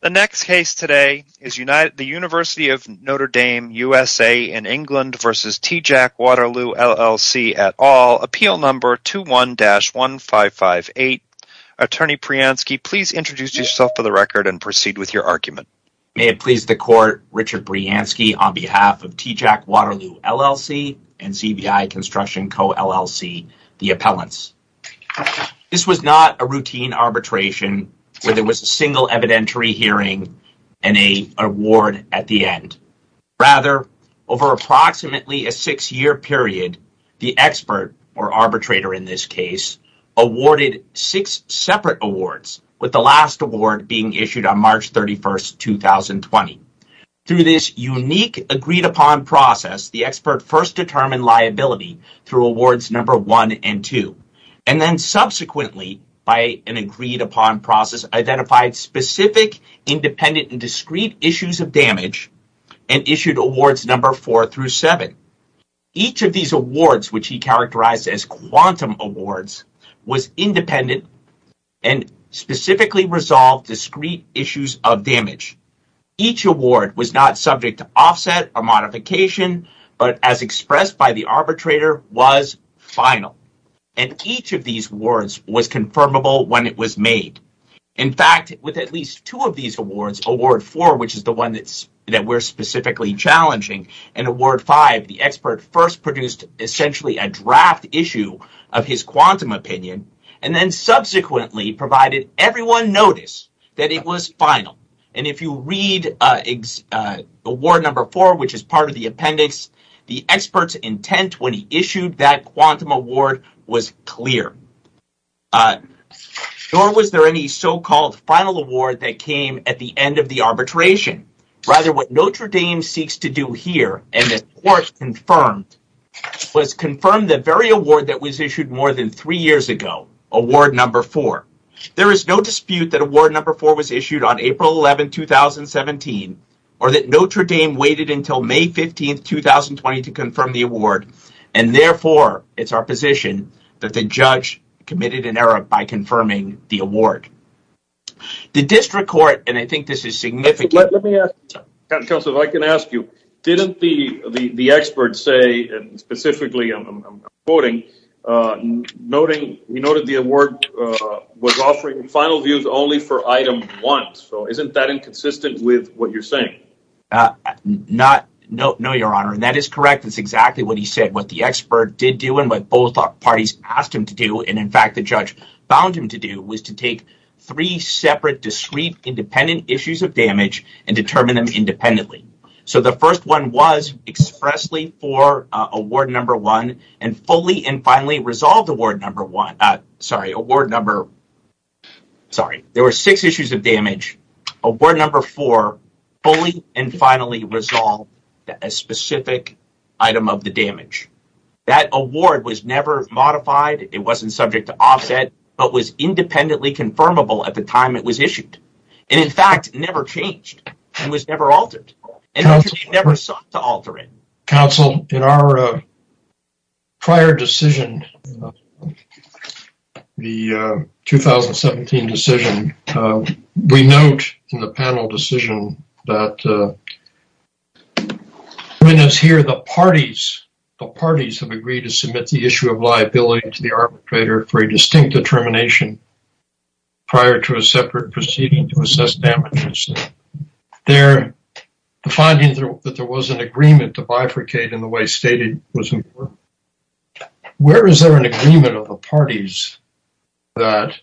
The next case today is United the University of Notre Dame USA in England versus TJAC Waterloo LLC at all. Appeal number 21-1558. Attorney Brianski please introduce yourself for the record and proceed with your argument. May it please the court Richard Brianski on behalf of TJAC Waterloo LLC and CVI Construction Co LLC the appellants. This was not a routine arbitration where there was a single evidentiary hearing and an award at the end. Rather, over approximately a six-year period, the expert or arbitrator in this case awarded six separate awards, with the last award being issued on March 31, 2020. Through this unique agreed-upon process, the expert first determined liability through awards number one and two, and then subsequently by an agreed-upon process identified specific, independent, and discrete issues of damage and issued awards number four through seven. Each of these awards, which he characterized as quantum awards, was independent and specifically resolved discrete issues of damage. Each award was not subject to offset or modification, but as expressed by the arbitrator, was final. And each of these awards was confirmable when it was made. In fact, with at least two of these awards, award four, which is the one that we're specifically challenging, and award five, the expert first produced essentially a draft issue of his quantum opinion and then subsequently provided everyone notice that it was final. And if you read award number four, which is part of the claim, it's not clear. Nor was there any so-called final award that came at the end of the arbitration. Rather, what Notre Dame seeks to do here, and the court confirmed, was confirm the very award that was issued more than three years ago, award number four. There is no dispute that award number four was issued on April 11, 2017, or that Notre Dame waited until May 15, 2020 to confirm the award, and therefore, it's our position that the judge committed an error by confirming the award. The district court, and I think this is significant, let me ask you, Councilor, if I can ask you, didn't the expert say, and specifically I'm quoting, noting, he noted the award was offering final views only for item one. So isn't that inconsistent with what you're saying? No, your honor, and that is correct. That's exactly what he said. What the expert did do, and what both parties asked him to do, and in fact, the judge found him to do, was to take three separate, discrete, independent issues of damage and determine them independently. So the first one was expressly for award number one, and fully and finally resolved award number one, and finally resolved a specific item of the damage. That award was never modified, it wasn't subject to offset, but was independently confirmable at the time it was issued, and in fact, never changed, and was never altered, and never sought to alter it. Council, in our prior decision, the 2017 decision, we note in the panel decision that when it's here, the parties have agreed to submit the issue of liability to the arbitrator for a distinct determination prior to a separate proceeding to assess damages. They're finding that there was an agreement to bifurcate in the way stated. Where is there an agreement of the parties that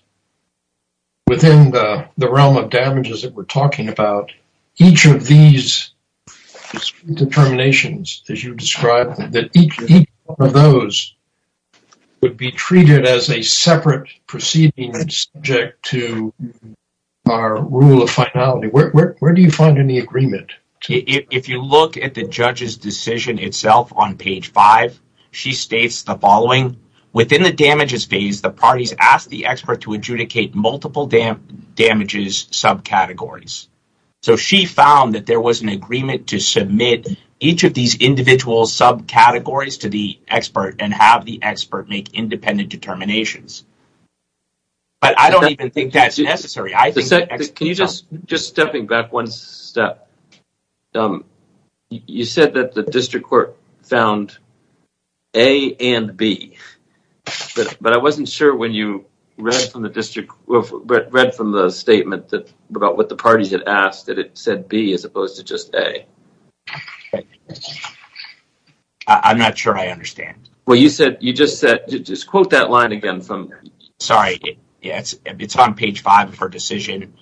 within the realm of damages that we're talking about, each of these determinations, as you described, that each of those would be treated as a separate proceeding subject to our rule of finality? Where do you find any agreement? If you look at the judge's decision itself on page five, she states the following, within the damages phase, the parties ask the expert to adjudicate multiple damages subcategories. So she found that there was an agreement to submit each of these individual subcategories to the arbitrator prior to each of these determinations. But I don't even think that's necessary. Can you just, just stepping back one step, you said that the district court found A and B, but I wasn't sure when you read from the district, read from the statement that about what the parties had asked, that it said B as opposed to just A. Okay. I'm not sure I understand. Well, you said, you just said, just quote that line again from. Sorry, it's on page five of her decision.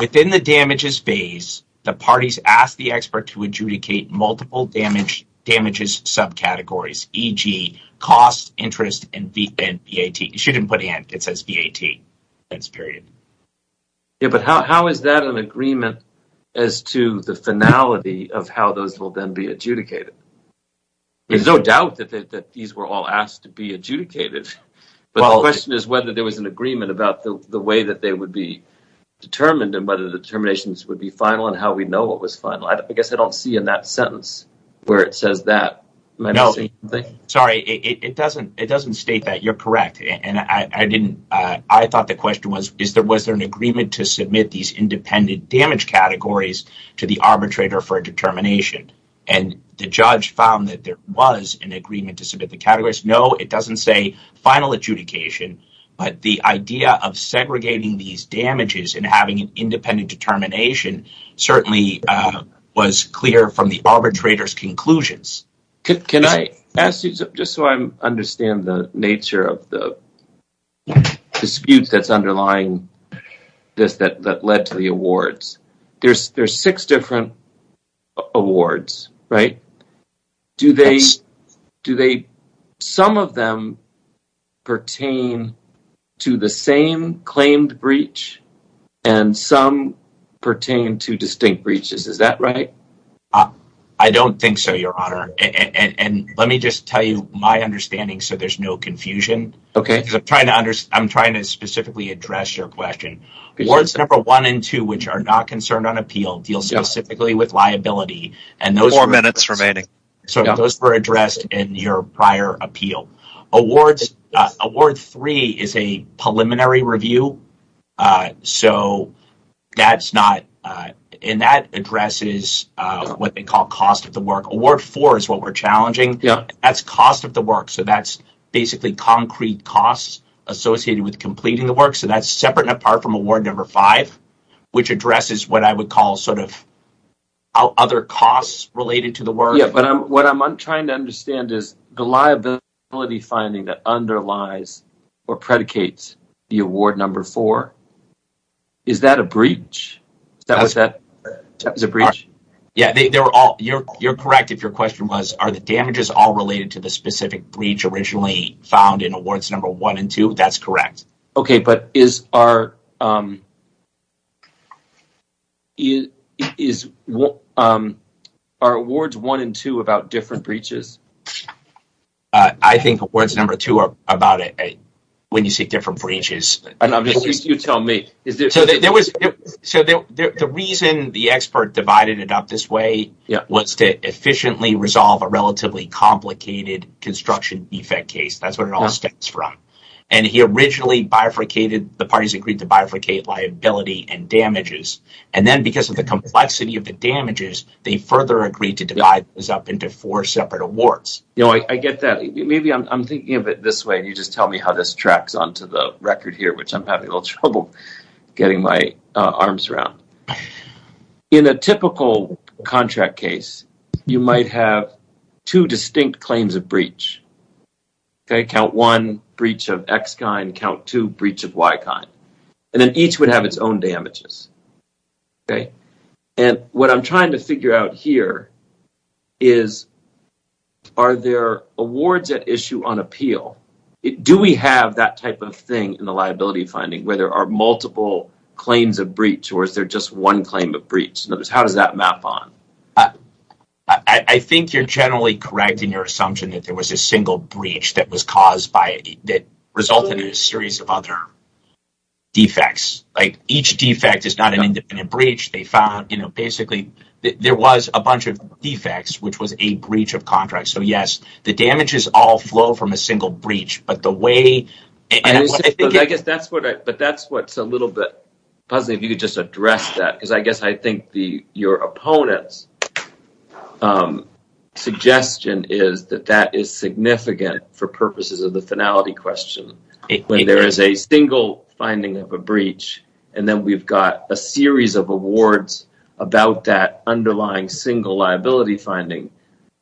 Within the damages phase, the parties ask the expert to adjudicate multiple damages subcategories, e.g. cost, interest, and VAT. She didn't put N, it says VAT. That's period. Yeah, but how is that an agreement as to the finality of how those will then be adjudicated? There's no doubt that these were all asked to be adjudicated, but the question is whether there was an agreement about the way that they would be determined and whether the determinations would be final and how we know what was final. I guess I don't see in that sentence where it says that. Sorry, it doesn't, it doesn't state that. You're correct. And I didn't, I thought the question was, is there, was there an agreement to submit these independent damage categories to the arbitrator for a determination? And the judge found that there was an agreement to submit the categories. No, it doesn't say final adjudication, but the idea of segregating these damages and having an independent determination certainly was clear from the arbitrator's conclusions. Can I ask you, just so I understand the nature of the disputes that's underlying this, that, that led to the awards, there's, there's six different awards, right? Do they, do they, some of them pertain to the same claimed breach and some pertain to distinct breaches. Is that right? Uh, I don't think so, your honor. And, and, and let me just tell you my understanding so there's no confusion. Okay. Because I'm trying to understand, I'm trying to specifically address your question. Awards number one and two, which are not concerned on appeal deal specifically with liability. And those are minutes remaining. So those were addressed in your prior appeal. Awards, award three is a preliminary review. So that's not, and that addresses what they call cost of the work. Award four is what we're challenging. Yeah. That's cost of the work. So that's basically concrete costs associated with completing the work. So that's separate and apart from award number five, which addresses what I would call sort of other costs related to the work. Yeah, but what I'm trying to understand is the liability finding that underlies or predicates the award number four. Is that a breach? Is that, is that, is that a breach? Yeah, they were all, you're, you're correct if your question was, are the damages all related to the specific breach originally found in awards number one and two? That's correct. Okay, but is our, is, are awards one and two about different breaches? I think awards number two are about when you see different breaches. And obviously you tell me. So there was, so the reason the expert divided it up this way was to efficiently resolve a relatively complicated construction defect case. That's where it all stems from. And he originally bifurcated, the parties agreed to bifurcate liability and damages. And then because of the complexity of the damages, they further agreed to divide this up into four separate awards. You know, I get that. Maybe I'm thinking of it this way and you just tell me how this tracks onto the record here, which I'm having a little trouble getting my arms around. In a typical contract case, you might have two distinct claims of breach. Okay, count one breach of X kind, count two breach of Y kind. And then each would have its own damages. Okay. And what I'm trying to figure out here is, are there awards at issue on appeal? Do we have that type of thing in the liability finding where there are multiple claims of breach or is there just one claim of breach? In other words, how does that map on? I think you're generally correct in your assumption that there was a single breach that resulted in a series of other defects. Like each defect is not an independent breach. They found, you know, basically there was a bunch of defects, which was a breach of contract. So yes, the damages all flow from a single breach, but the way... I guess that's what's a little bit puzzling if you could just address that. Because I guess I guess the suggestion is that that is significant for purposes of the finality question. When there is a single finding of a breach, and then we've got a series of awards about that underlying single liability finding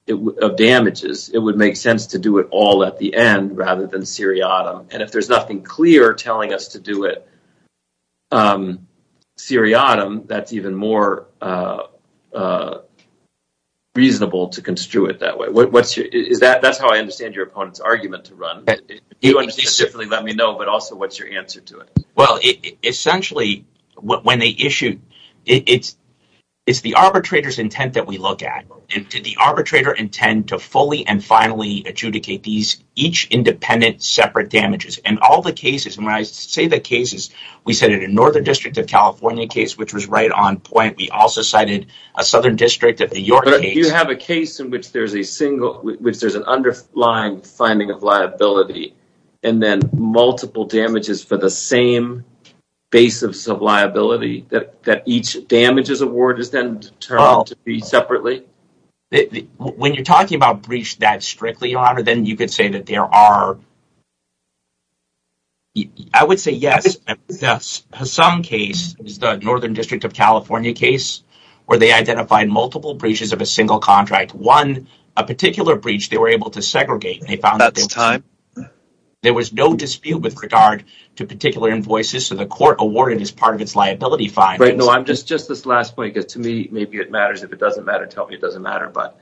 of damages, it would make sense to do it all at the end rather than seriatim. And if there's nothing clear telling us to do it seriatim, that's even more reasonable to construe it that way. That's how I understand your opponent's argument to run. If you understand it, definitely let me know. But also, what's your answer to it? Well, essentially, when they issue, it's the arbitrator's intent that we look at. Did the arbitrator intend to fully and finally adjudicate each independent separate damages? And all the cases, when I say the cases, we cited a Northern District of California case, which was right on point. We also cited a Southern District of New York case. But if you have a case in which there's an underlying finding of liability, and then multiple damages for the same basis of liability, that each damages award is then determined to be separately? When you're talking about breach that case, where they identified multiple breaches of a single contract, one, a particular breach, they were able to segregate. There was no dispute with regard to particular invoices, so the court awarded as part of its liability findings. No, just this last point, because to me, maybe it matters. If it doesn't matter, tell me it doesn't matter. But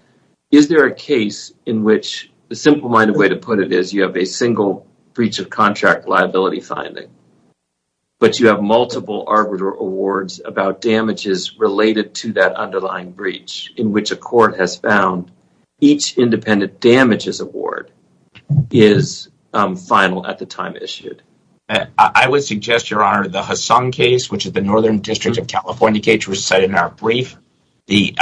is there a case in which the simple-minded way to put it is, you have a single breach of contract liability finding, but you have multiple awards about damages related to that underlying breach in which a court has found each independent damages award is final at the time issued? I would suggest, Your Honor, the Hassung case, which is the Northern District of California case, was cited in our brief. The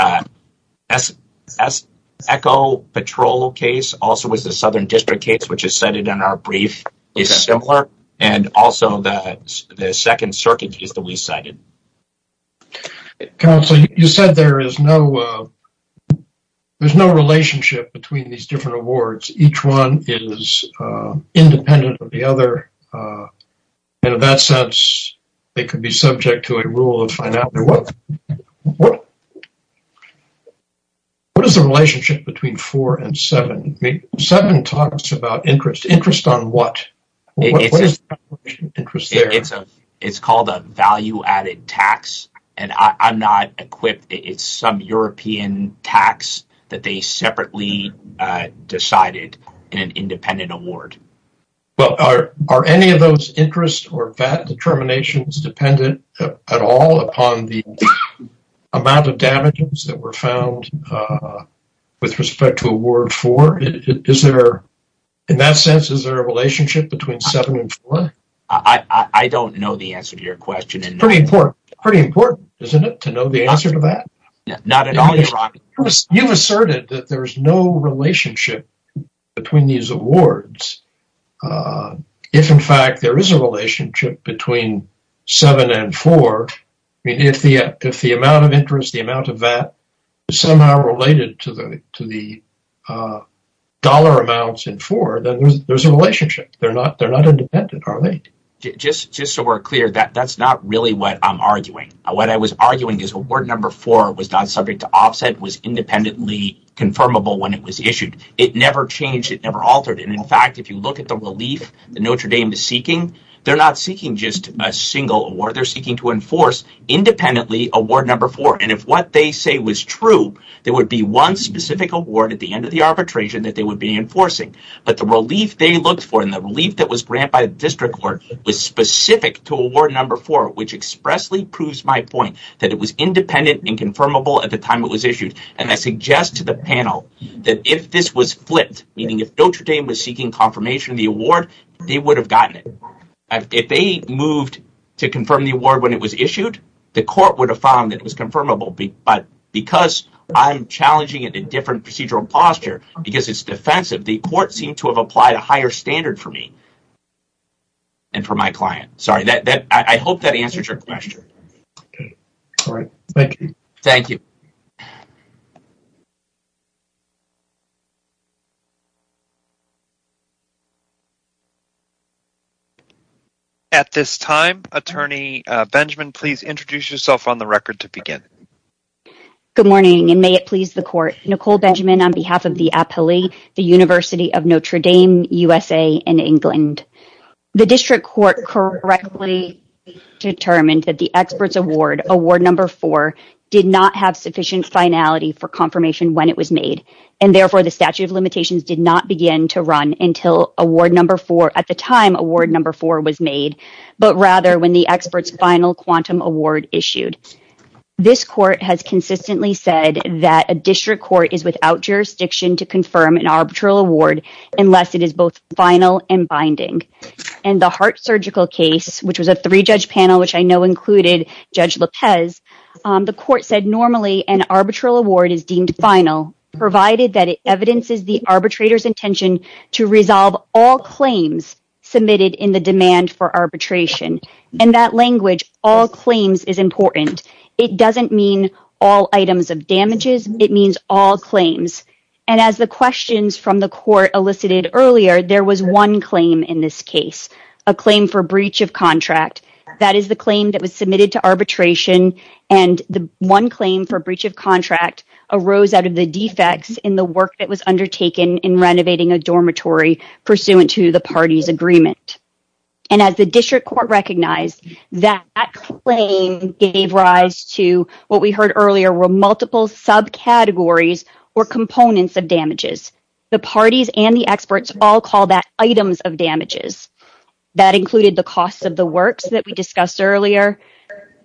Echo Patrol case also was the Southern District case, which is cited in our brief, is simpler, and also the Second Circuit case that we cited. Counsel, you said there is no relationship between these different awards. Each one is independent of the other, and in that sense, they could be subject to a rule of finality. What is the relationship between four and seven? Seven talks about interest. Interest on what? It's called a value-added tax, and I'm not equipped. It's some European tax that they separately decided in an independent award. Well, are any of those interests or VAT determinations dependent at all upon the amount of damages that were found with respect to award four? In that sense, is there a relationship between seven and four? I don't know the answer to your question. It's pretty important, isn't it, to know the answer to that? Not at all, Your Honor. You've asserted that there's no relationship between these awards. If, in fact, there is a relationship between seven and four, if the amount of interest, the amount of VAT, is somehow related to the dollar amounts in four, then there's a relationship. They're not independent, are they? Just so we're clear, that's not really what I'm arguing. What I was arguing is award number four was not subject to offset, was independently confirmable when it was issued. It never changed. It never altered. In fact, if you look at the relief that Notre Dame is seeking, they're not seeking just a single award. They're seeking to enforce, independently, award number four. If what they say was true, there would be one specific award at the end of the arbitration that they would be enforcing. The relief they looked for and the relief that was granted by the district court was specific to award number four, which expressly proves my point that it was independent and confirmable at the time it was issued. I suggest to the panel that if this was flipped, meaning if Notre Dame was seeking confirmation of the award, they would have gotten it. If they moved to confirm the award when it was issued, the court would have found that it was confirmable. But because I'm challenging it in a different procedural posture, because it's defensive, the court seemed to have applied a higher standard for me and for my client. Sorry, I hope that answers your question. All right, thank you. Thank you. At this time, Attorney Benjamin, please introduce yourself on the record to begin. Good morning, and may it please the court. Nicole Benjamin on behalf of the appellee, the University of Notre Dame USA in England. The district court correctly determined that the expert's award, award number four, did not have sufficient finality for confirmation when it was made, and therefore the statute of limitations did not begin to run until award number four, at the time award number four was made, but rather when the expert's final quantum award issued. This court has consistently said that a district court is without jurisdiction to confirm an arbitral award unless it is both final and binding. In the heart surgical case, which was a three-judge panel, which I know included Judge Lopez, the court said normally an arbitral award is deemed final, provided that it evidences the arbitrator's intention to resolve all claims submitted in the demand for arbitration. In that language, all claims is important. It doesn't mean all items of damages. It means all claims, and as the questions from the court elicited earlier, there was one claim in this case, a claim for breach of contract. That is the claim that was submitted to arbitration, and the one claim for breach of contract arose out of the defects in the work that was undertaken in renovating a dormitory pursuant to the party's agreement. And as the district court recognized, that claim gave rise to what we heard earlier were multiple subcategories or components of damages. The parties and the experts all call that items of damages. That included the cost of the works that we discussed earlier,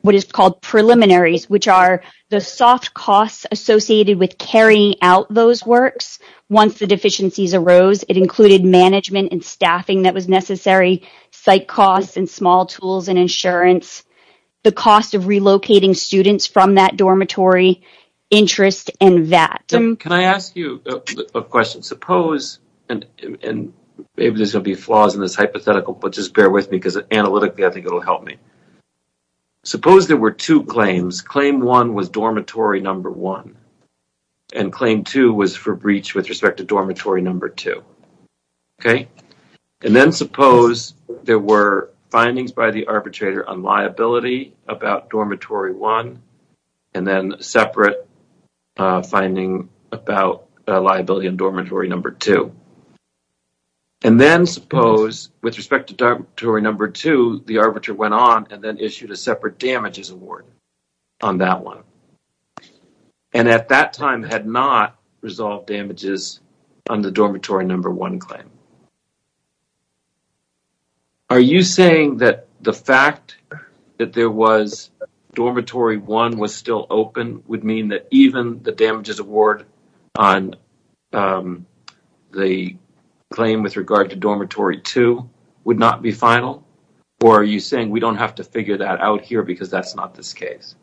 what is called preliminaries, which are the soft costs associated with carrying out those works. Once the deficiencies arose, it included management and staffing that was necessary, site costs and small tools and insurance, the cost of relocating students from that dormitory, interest, and VAT. Can I ask you a question? Suppose, and maybe there's going to be flaws in this hypothetical, but just bear with me because analytically I think it'll help me. Suppose there were two claims. Claim one was dormitory number one, and claim two was for breach with respect to dormitory number two. And then suppose there were findings by the arbitrator on liability about dormitory one, and then separate finding about liability in dormitory number two. And then suppose with respect to dormitory number two, the arbiter went on and then issued a separate damages award on that one, and at that time had not resolved damages on the dormitory number one claim. Are you saying that the fact that there was dormitory one was still open would mean that even the damages award on the claim with regard to dormitory two would not be final? Or are you saying we don't have to figure that out here because that's not this case?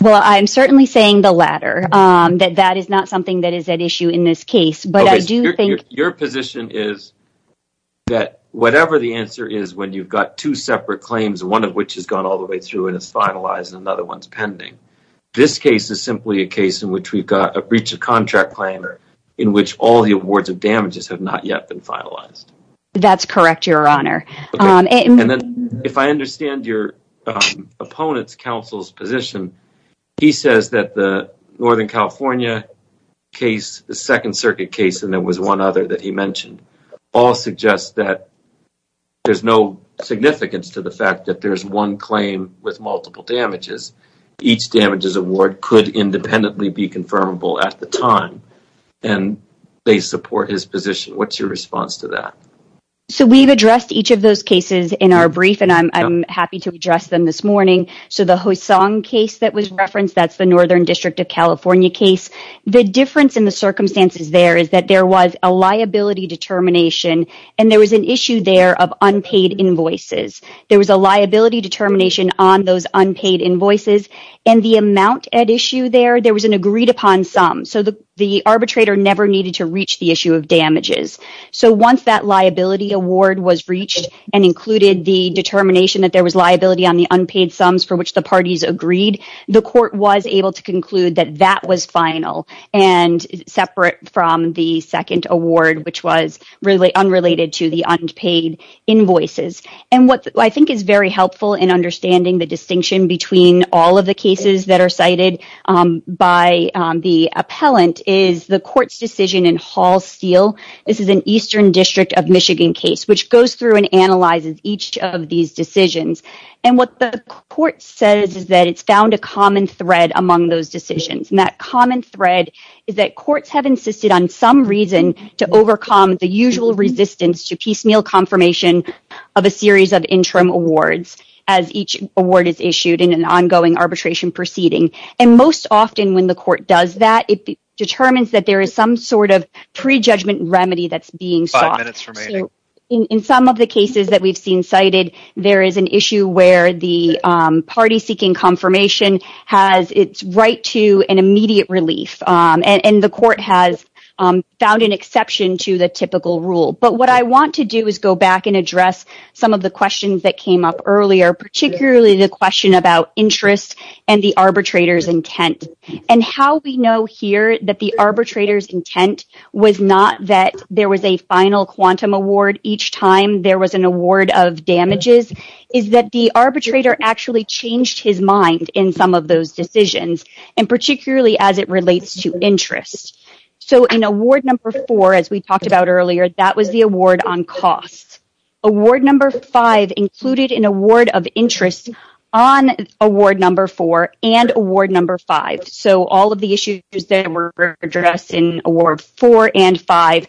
Well, I'm certainly saying the latter, that that is not something that is at issue in this case. But I do think your position is that whatever the answer is when you've got two separate claims, one of which has gone all the way through and is finalized, and another one's pending, this case is simply a case in which we've got a breach of contract claim, or in which all the awards of damages have not yet been finalized. That's correct, Your Honor. And then if I understand your opponent's counsel's position, he says that the Northern California case, the Second Circuit case, and there was one other that he mentioned, all suggest that there's no significance to the fact that there's one claim with multiple damages. Each damages award could independently be confirmable at the time, and they support his position. What's your response to that? So we've addressed each of those cases in our brief, and I'm happy to address them this morning. So the Hosong case that was referenced, that's the Northern District of California case. The difference in the circumstances there is that there was a liability determination, and there was an issue there of unpaid invoices. There was a liability determination on those unpaid invoices, and the amount at issue there, there was an agreed-upon sum. So the arbitrator never needed to reach the issue of damages. So once that liability award was reached and included the determination that there was liability on the unpaid sums for which the parties agreed, the court was able to conclude that that was final and separate from the second award, which was unrelated to the unpaid invoices. And what I think is very helpful in understanding the distinction between all of the cases that are cited by the appellant is the court's decision in Hall-Steele. This is an Eastern District of Michigan case, which goes through and analyzes each of these decisions. And what the court says is that it's found a common thread among those usual resistance to piecemeal confirmation of a series of interim awards as each award is issued in an ongoing arbitration proceeding. And most often when the court does that, it determines that there is some sort of prejudgment remedy that's being sought. In some of the cases that we've seen cited, there is an issue where the party seeking confirmation has its right to an typical rule. But what I want to do is go back and address some of the questions that came up earlier, particularly the question about interest and the arbitrator's intent. And how we know here that the arbitrator's intent was not that there was a final quantum award each time there was an award of damages is that the arbitrator actually changed his mind in some of those decisions, and particularly as it relates to interest. So in award number four, as we talked about earlier, that was the award on costs. Award number five included an award of interest on award number four and award number five. So all of the issues that were addressed in award four and five,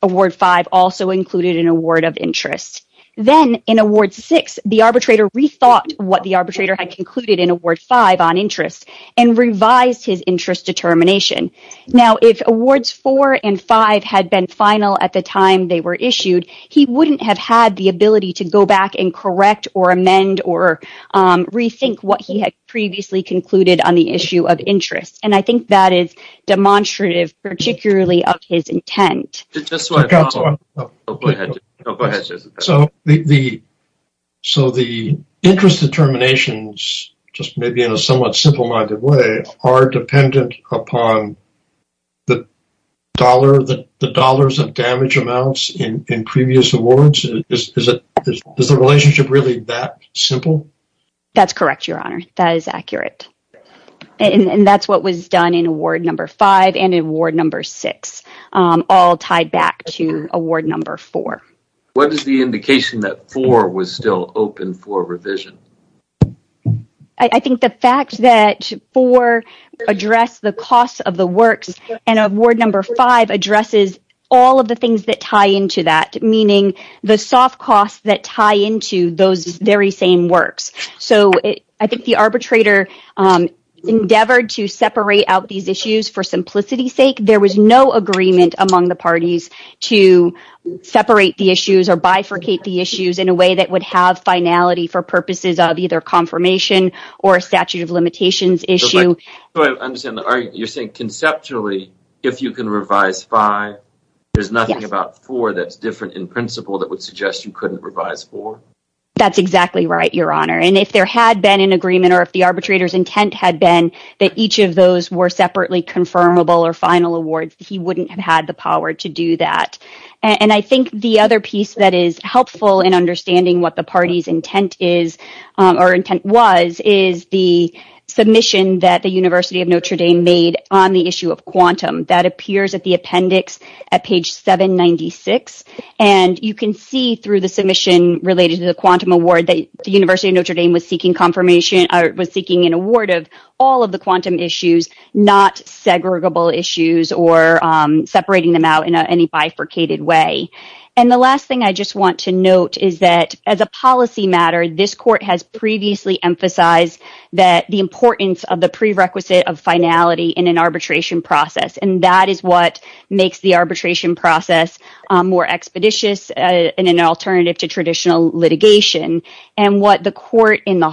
award five also included an award of interest. Then in award six, the arbitrator rethought what the arbitrator had concluded in award five on interest and revised his interest determination. Now, if awards four and five had been final at the time they were issued, he wouldn't have had the ability to go back and correct or amend or rethink what he had previously concluded on the issue of interest. And I think that is demonstrative, particularly of his intent. So the interest determinations, just maybe in a somewhat simple-minded way, are dependent upon the dollars of damage amounts in previous awards? Is the relationship really that simple? That's correct, Your Honor. That is accurate. And that's what was done in award number five and in award number six, all tied back to award number four. What is the indication that four was still open for revision? I think the fact that four addressed the costs of the works and award number five addresses all of the things that tie into that, meaning the soft costs that for simplicity's sake, there was no agreement among the parties to separate the issues or bifurcate the issues in a way that would have finality for purposes of either confirmation or a statute of limitations issue. I understand the argument. You're saying conceptually, if you can revise five, there's nothing about four that's different in principle that would suggest you couldn't revise four? That's exactly right, Your Honor. And if there had been an confirmable or final award, he wouldn't have had the power to do that. I think the other piece that is helpful in understanding what the party's intent was is the submission that the University of Notre Dame made on the issue of quantum that appears at the appendix at page 796. You can see through the submission related to the quantum award that the University of Notre Dame was seeking an award of all of the quantum issues, not segregable issues or separating them out in any bifurcated way. And the last thing I just want to note is that as a policy matter, this court has previously emphasized that the importance of the prerequisite of finality in an arbitration process, and that is what makes the arbitration process more expeditious in an alternative to traditional litigation. And what the court in the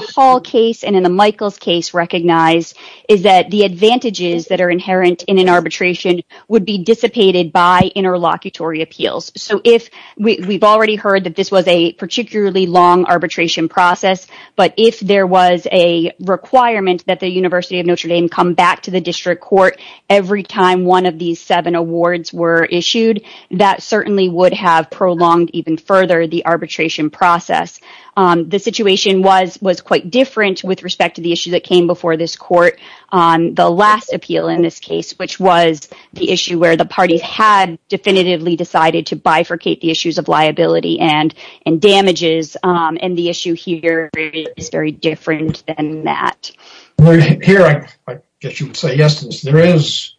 advantages that are inherent in an arbitration would be dissipated by interlocutory appeals. So if we've already heard that this was a particularly long arbitration process, but if there was a requirement that the University of Notre Dame come back to the district court every time one of these seven awards were issued, that certainly would have prolonged even further the arbitration process. The situation was quite different with respect to the issue that came before this court on the last appeal in this case, which was the issue where the parties had definitively decided to bifurcate the issues of liability and damages, and the issue here is very different than that. Here I guess you would say, yes, there is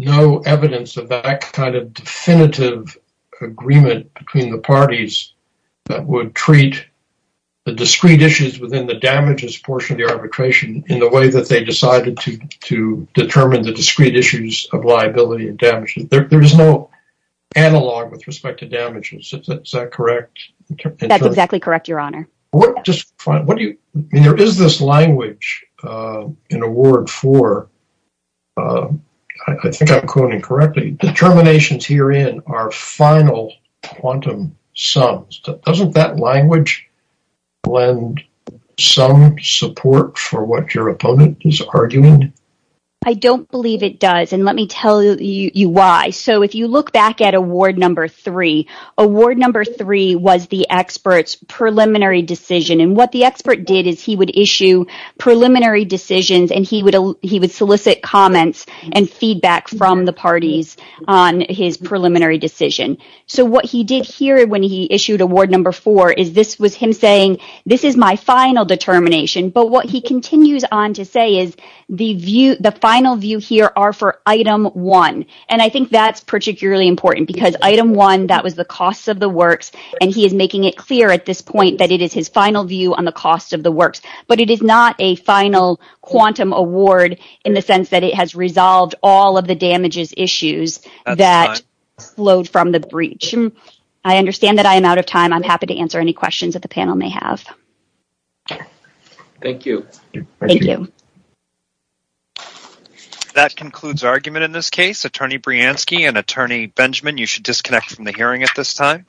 no evidence of that kind of definitive agreement between the parties that would treat the discrete issues within the arbitration in the way that they decided to determine the discrete issues of liability and damages. There is no analog with respect to damages. Is that correct? That's exactly correct, Your Honor. There is this language in award for, I think I'm quoting correctly, determinations herein are final quantum sums. Doesn't that language lend some support for what your opponent is arguing? I don't believe it does, and let me tell you why. So if you look back at award number three, award number three was the expert's preliminary decision, and what the expert did is he would issue preliminary decisions and he would solicit comments and feedback from the parties on his preliminary decision. So what he did here when he issued award number four is this was him saying, this is my final determination, but what he continues on to say is the final view here are for item one, and I think that's particularly important because item one, that was the costs of the works, and he is making it clear at this point that it is his final view on the cost of the works, but it is not a final quantum award in the sense that it has resolved all of the damages issues that flowed from the breach. I understand that I am out of time. I'm happy to answer any questions that the panel may have. Thank you. Thank you. That concludes argument in this case. Attorney Brianski and Attorney Benjamin, you should disconnect from the hearing at this time.